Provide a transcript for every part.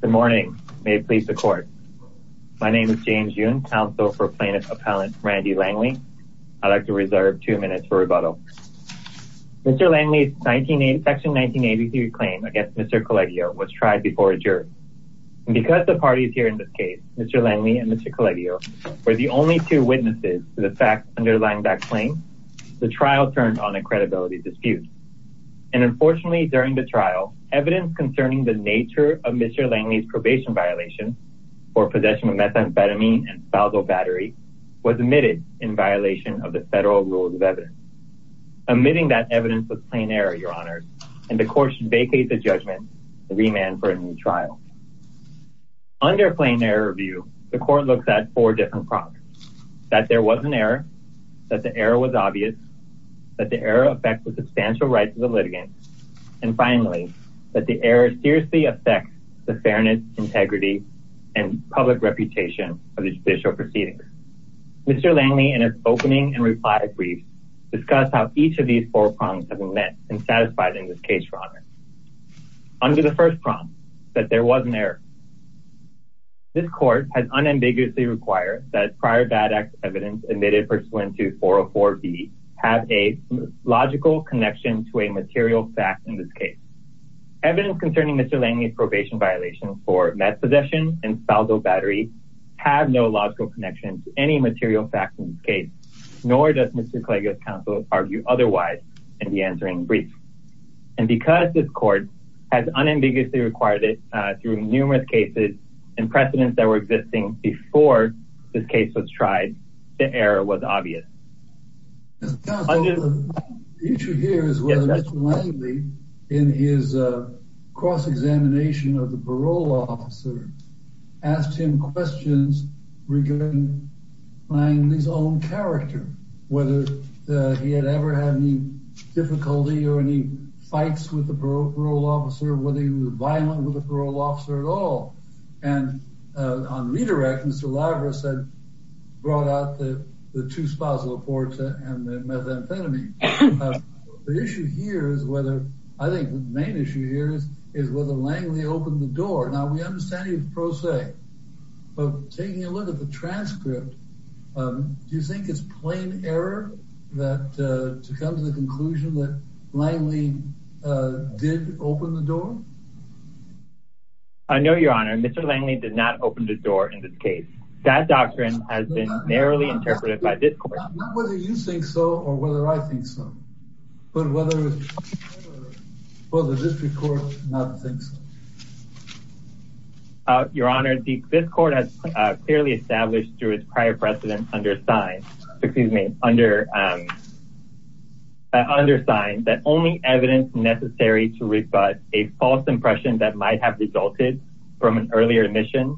Good morning, may it please the court. My name is James Yoon, counsel for plaintiff appellant Randy Langley. I'd like to reserve two minutes for rebuttal. Mr. Langley's section 1983 claim against Mr. Colegio was tried before a jury. Because the parties here in this case, Mr. Langley and Mr. Colegio, were the only two witnesses to the facts underlying that claim, the trial turned on a credibility dispute. And unfortunately during the trial, evidence concerning the nature of Mr. Langley's probation violation for possession of methamphetamine and spousal battery was admitted in violation of the federal rules of evidence. Admitting that evidence was plain error, your honor, and the court should vacate the judgment and remand for a new trial. Under plain error review, the court looks at four different problems. That there was an error, that the error was obvious, that the error affects the substantial rights of the family, that the error seriously affects the fairness, integrity, and public reputation of the judicial proceedings. Mr. Langley, in his opening and reply brief, discussed how each of these four problems have been met and satisfied in this case, your honor. Under the first problem, that there was an error. This court has unambiguously required that prior bad act evidence admitted pursuant to 404B have a logical connection to a material fact in this case. Evidence concerning Mr. Langley's probation violation for meth possession and spousal battery have no logical connection to any material fact in this case, nor does Mr. Klage's counsel argue otherwise in the answering brief. And because this court has unambiguously required it through numerous cases and precedents that were existing before this case was tried, the error was obvious. The issue here is whether Mr. Langley, in his cross-examination of the parole officer, asked him questions regarding Langley's own character, whether he had ever had any difficulty or any fights with the parole officer, whether he was on redirect, Mr. Larvera said, brought out the two spousal reports and the methamphetamine. The issue here is whether, I think the main issue here is is whether Langley opened the door. Now we understand he was pro se, but taking a look at the transcript, do you think it's plain error that to come to the conclusion that Langley did open the door? I know your honor, Mr. Langley did not open the door in this case. That doctrine has been narrowly interpreted by this court. Not whether you think so or whether I think so, but whether the district court does not think so. Your honor, this court has clearly established through its prior precedents under signed, excuse me, under signed that only evidence necessary to give a false impression that might have resulted from an earlier admission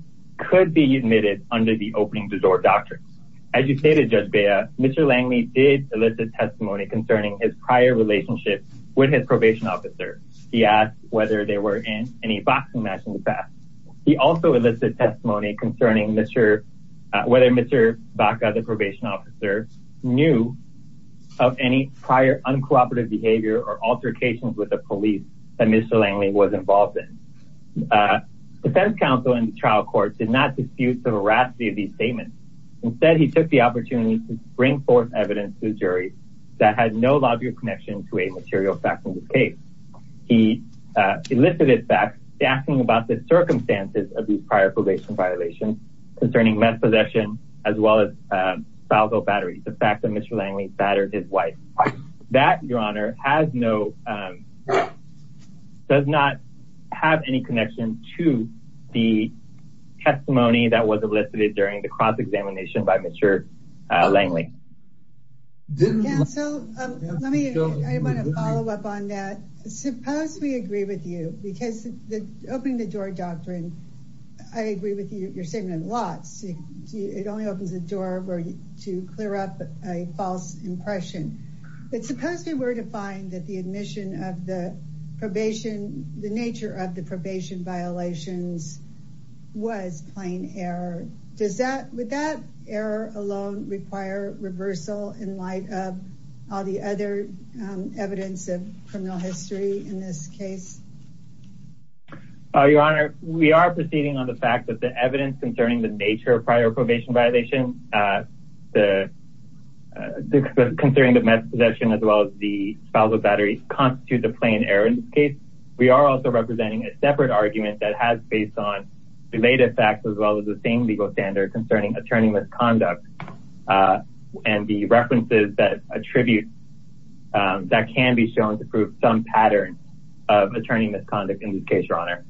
could be admitted under the opening the door doctrine. As you stated, Judge Bea, Mr. Langley did elicit testimony concerning his prior relationship with his probation officer. He asked whether they were in any boxing match in the past. He also elicited testimony concerning whether Mr. Baca, the probation officer, knew of any prior uncooperative behavior or altercations with the police that Mr. Langley was involved in. The defense counsel in the trial court did not dispute the veracity of these statements. Instead, he took the opportunity to bring forth evidence to the jury that had no logical connection to a material fact in this case. He elicited facts asking about the circumstances of these prior probation violations concerning meth possession as well as foul bill batteries, the fact that Mr. Langley battered his wife. That, your honor, has no, does not have any connection to the testimony that was elicited during the cross-examination by Mr. Langley. So let me, I want to follow up on that. Suppose we agree with you, because the opening the door doctrine, I agree with you, you're saving him lots. It only opens the door to clear up a false impression. But suppose we were to find that the admission of the probation, the nature of the probation violations was plain error. Does that, would that error alone require reversal in light of all the other evidence of criminal history in this case? Your honor, we are proceeding on the fact that the evidence concerning the nature of probation violation, the concerning the meth possession as well as the foul bill batteries constitute the plain error in this case. We are also representing a separate argument that has based on related facts as well as the same legal standard concerning attorney misconduct and the references that attribute that can be shown to prove some pattern of attorney misconduct in this case, your honor.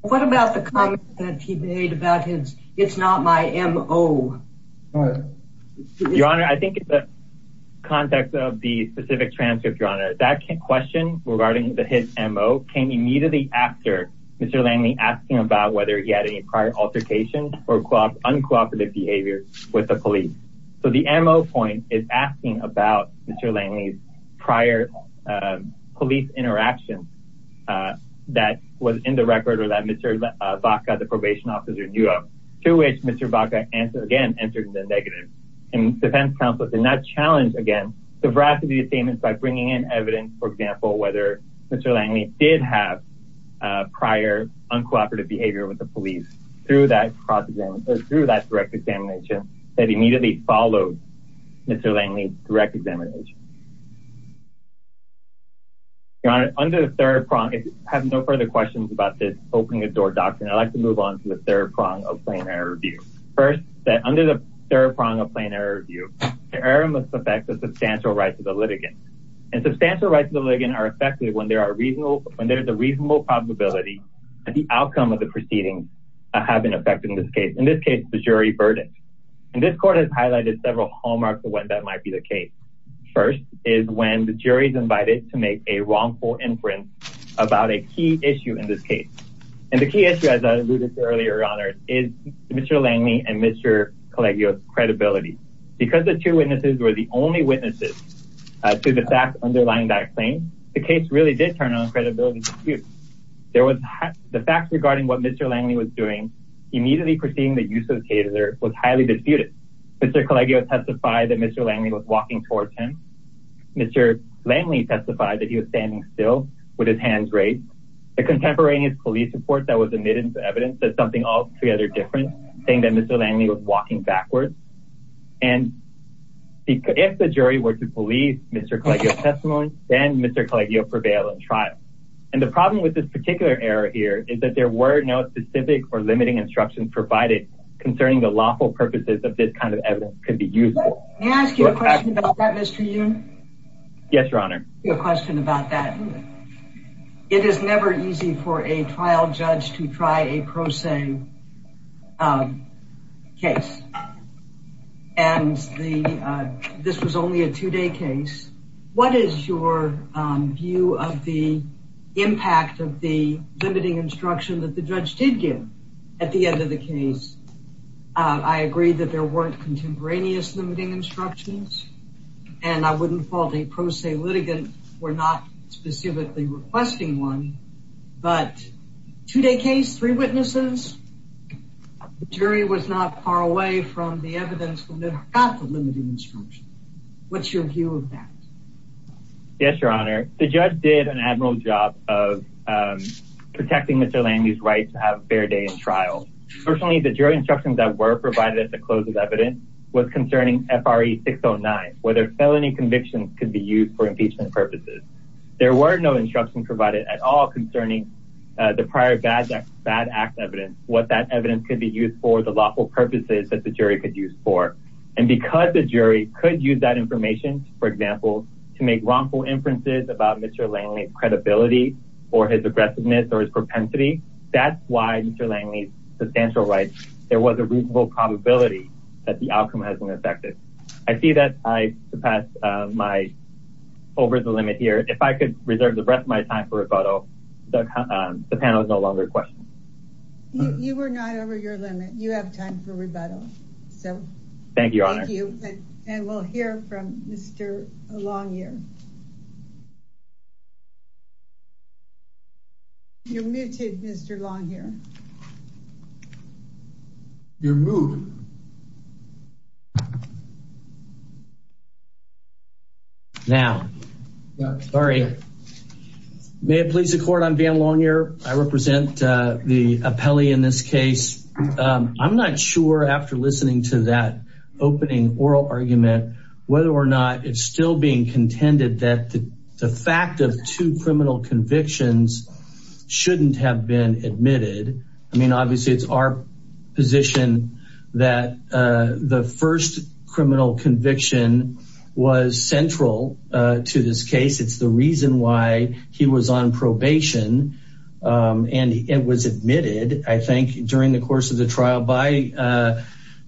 What about the comment that he made about his, it's not my MO? Your honor, I think the context of the specific transcript, your honor, that question regarding the hit MO came immediately after Mr. Langley asking about whether he had any prior altercation or uncooperative behavior with the police. So the MO point is asking about Mr. Langley's prior police interaction, uh, that was in the record or that Mr. Baca, the probation officer knew of, to which Mr. Baca answered again, entered the negative and defense counsel did not challenge again, the veracity of statements by bringing in evidence, for example, whether Mr. Langley did have a prior uncooperative behavior with the police through that process or through that direct examination that immediately followed Mr. Langley direct examination. Your honor, under the third prong, if you have no further questions about this opening the door doctrine, I'd like to move on to the third prong of plain error review. First, that under the third prong of plain error review, the error must affect the substantial rights of the litigant and substantial rights of the litigant are affected when there are reasonable, when there's a reasonable probability that the outcome of the proceedings have been affected in this case, in this case, the jury burden. And this court has is when the jury's invited to make a wrongful inference about a key issue in this case. And the key issue, as I alluded to earlier, your honor, is Mr. Langley and Mr. Collegio credibility because the two witnesses were the only witnesses to the fact underlying that claim, the case really did turn on credibility. There was the facts regarding what Mr. Langley was doing immediately proceeding. The use of the taser was highly disputed. Mr. Langley was walking towards him. Mr. Langley testified that he was standing still with his hands raised. The contemporaneous police report that was admitted to evidence that something altogether different saying that Mr. Langley was walking backwards. And if the jury were to police Mr. Collegio testimony, then Mr. Collegio prevailed in trial. And the problem with this particular error here is that there were no specific or limiting instructions provided concerning the lawful purposes of this kind of evidence could be useful. May I ask you a question about that, Mr. Yoon? Yes, your honor. A question about that. It is never easy for a trial judge to try a pro se, um, case. And the this was only a two day case. What is your view of the impact of the limiting instruction that the judge did give at the end of the case? I agree that there weren't contemporaneous limiting instructions, and I wouldn't fault a pro se litigant. We're not specifically requesting one, but two day case, three witnesses. The jury was not far away from the evidence from the got the limiting instruction. What's your view of that? Yes, your honor. The judge did an admiral job of protecting Mr Day in trial. Personally, the jury instructions that were provided at the close of evidence was concerning F. R. E. 609 whether felony convictions could be used for impeachment purposes. There were no instruction provided at all concerning the prior bad bad act evidence. What that evidence could be used for the lawful purposes that the jury could use for and because the jury could use that information, for example, to make wrongful inferences about Mr Langley credibility or his aggressiveness or his propensity. That's why Mr Langley substantial rights. There was a reasonable probability that the outcome has been affected. I see that I surpassed my over the limit here. If I could reserve the rest of my time for a photo, the panel is no longer questions. You were not over your limit. You have time for rebuttal. So thank you. Thank you. And we'll hear from Mr Longyear. You're muted, Mr Longyear. You're moved. Now, sorry. May it please the court, I'm Van Longyear. I represent the appellee in this case. I'm not sure after listening to that opening oral argument, whether or not it's still being contended that the fact of two criminal convictions shouldn't have been admitted. I mean, obviously it's our position that the first criminal conviction was central to this case. It's the reason why he was on probation. And it was admitted, I think, during the course of the trial by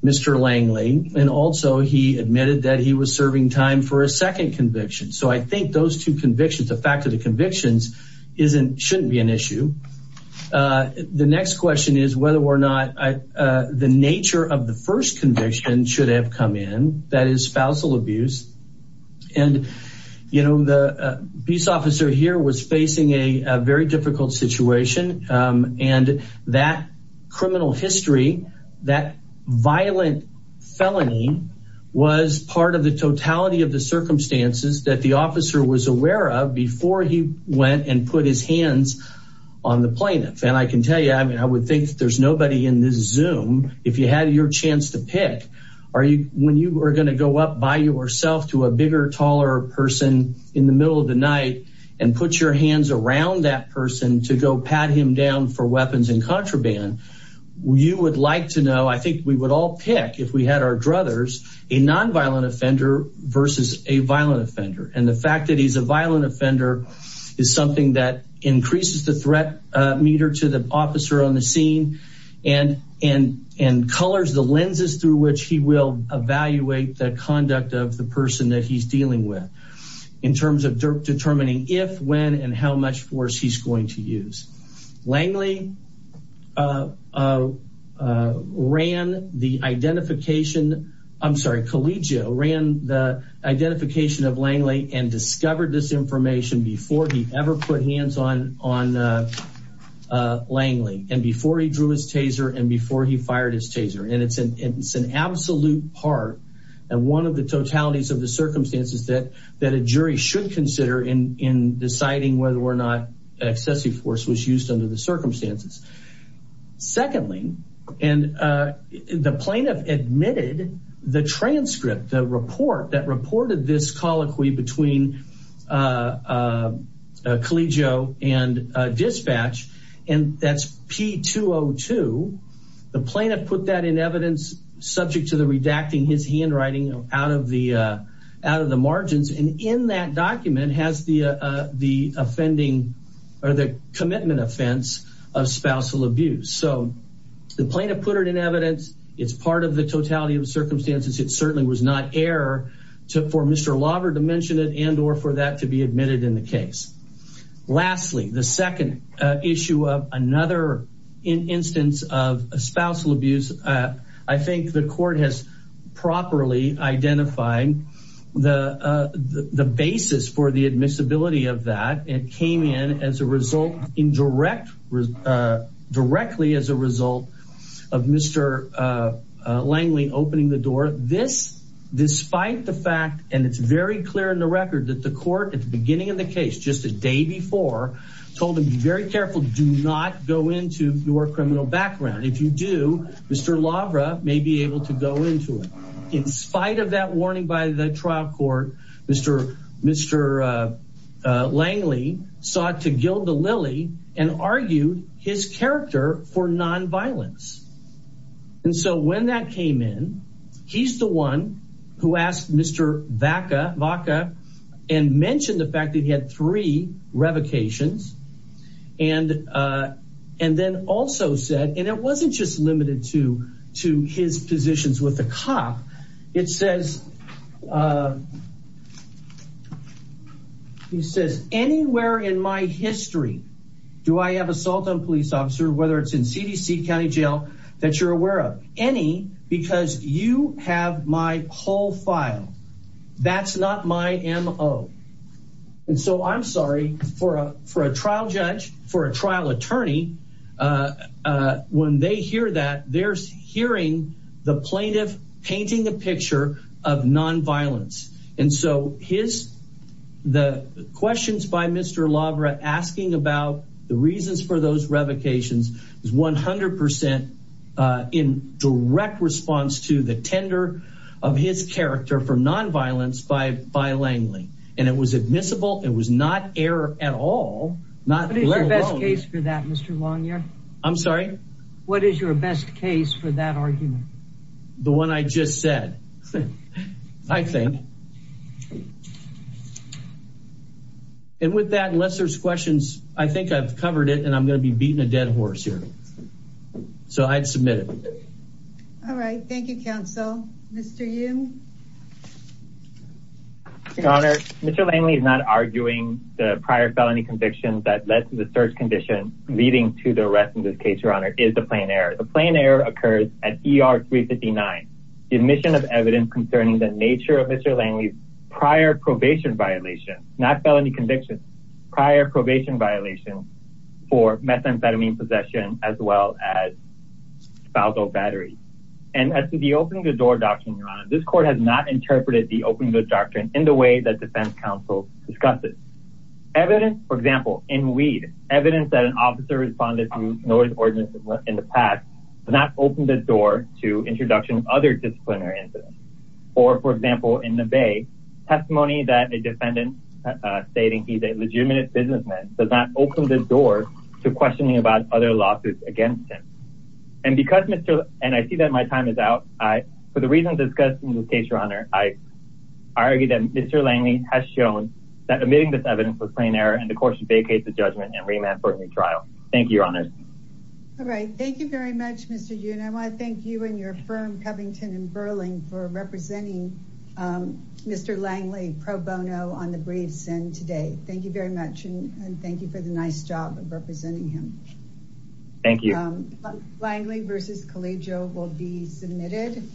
Mr Langley. And also he admitted that he was serving time for a second conviction. So I think those two convictions, the fact of the convictions, shouldn't be an issue. The next question is whether or not the nature of the first conviction should have come in, that is spousal abuse. And, you know, the peace officer here was facing a very difficult situation. And that criminal history, that violent felony was part of the totality of the circumstances that the officer was aware of before he went and put his hands on the plaintiff. And I can tell you, I mean, I would think that there's nobody in this Zoom, if you had your chance to pick, when you are going to go up by yourself to a bigger, taller person in the middle of the night and put your hands around that person to go pat him down for weapons and contraband, you would like to know, I think we would all pick, if we had our druthers, a nonviolent offender versus a violent offender. And the fact that he's a violent offender is something that increases the threat meter to the officer on the scene and colors the lenses through which he will evaluate the conduct of the person that he's in terms of determining if, when, and how much force he's going to use. Langley ran the identification, I'm sorry, Collegio ran the identification of Langley and discovered this information before he ever put hands on Langley and before he drew his taser and before he fired his taser. And it's an, it's an absolute part and one of the totalities of the circumstances that a jury should consider in deciding whether or not excessive force was used under the circumstances. Secondly, and the plaintiff admitted the transcript, the report that reported this colloquy between Collegio and dispatch, and that's P202, the plaintiff put that in evidence subject to the redacting his margins. And in that document has the, the offending or the commitment offense of spousal abuse. So the plaintiff put it in evidence. It's part of the totality of the circumstances. It certainly was not error for Mr. Lauber to mention it and or for that to be admitted in the case. Lastly, the second issue of another instance of spousal abuse, I think the properly identifying the, the basis for the admissibility of that. It came in as a result in direct, directly as a result of Mr. Langley opening the door. This, despite the fact, and it's very clear in the record that the court at the beginning of the case, just a day before told him to be very careful, do not go into your criminal background. If you do, Mr. Lauber may be able to go into it. In spite of that warning by the trial court, Mr. Langley sought to gild the lily and argued his character for nonviolence. And so when that came in, he's the one who asked Mr. Vacca and mentioned the fact that he had three revocations. And, and then also said, and it wasn't just limited to, to his positions with the cop. It says, he says, anywhere in my history, do I have assault on police officer, whether it's in CDC County jail that you're aware of any, because you have my whole file. That's not my MO. And so I'm sorry for a, for a trial judge, for a trial attorney, when they hear that there's hearing the plaintiff painting a picture of nonviolence. And so his, the questions by Mr. Lauber asking about the reasons for those revocations is 100% in direct response to the was admissible. It was not error at all. What is your best case for that, Mr. Longyear? I'm sorry. What is your best case for that argument? The one I just said, I think. And with that, unless there's questions, I think I've covered it and I'm going to be beating a dead horse here. So I'd submit it. All right. Thank you, counsel. Mr. Yu. Your Honor, Mr. Langley is not arguing the prior felony convictions that led to the search condition leading to the arrest in this case. Your Honor is the plain error. The plain error occurs at ER 359. The admission of evidence concerning the nature of Mr. Langley's prior probation violation, not felony conviction, prior probation violations for methamphetamine possession, as well as spousal battery. And as to the opening the door doctrine, Your Honor, this court has not interpreted the opening of the doctrine in the way that defense counsel discussed it. Evidence, for example, in weed, evidence that an officer responded to notice ordinances in the past does not open the door to introduction of other disciplinary incidents. Or for example, in the Bay testimony that a defendant stating he's a legitimate businessman does not open the door to questioning about other lawsuits against him. And because Mr. and I see that my time is out, I, for the reasons discussed in this case, Your Honor, I argue that Mr. Langley has shown that admitting this evidence was plain error and the court should vacate the judgment and remand for a new trial. Thank you, Your Honor. All right. Thank you very much, Mr. Yu. And I want to thank you and your firm, Covington & Burling, for representing Mr. Langley pro bono on the briefs and today. Thank you very much. And thank you for the nice job of representing him. Thank you. Langley v. Collegio will be submitted.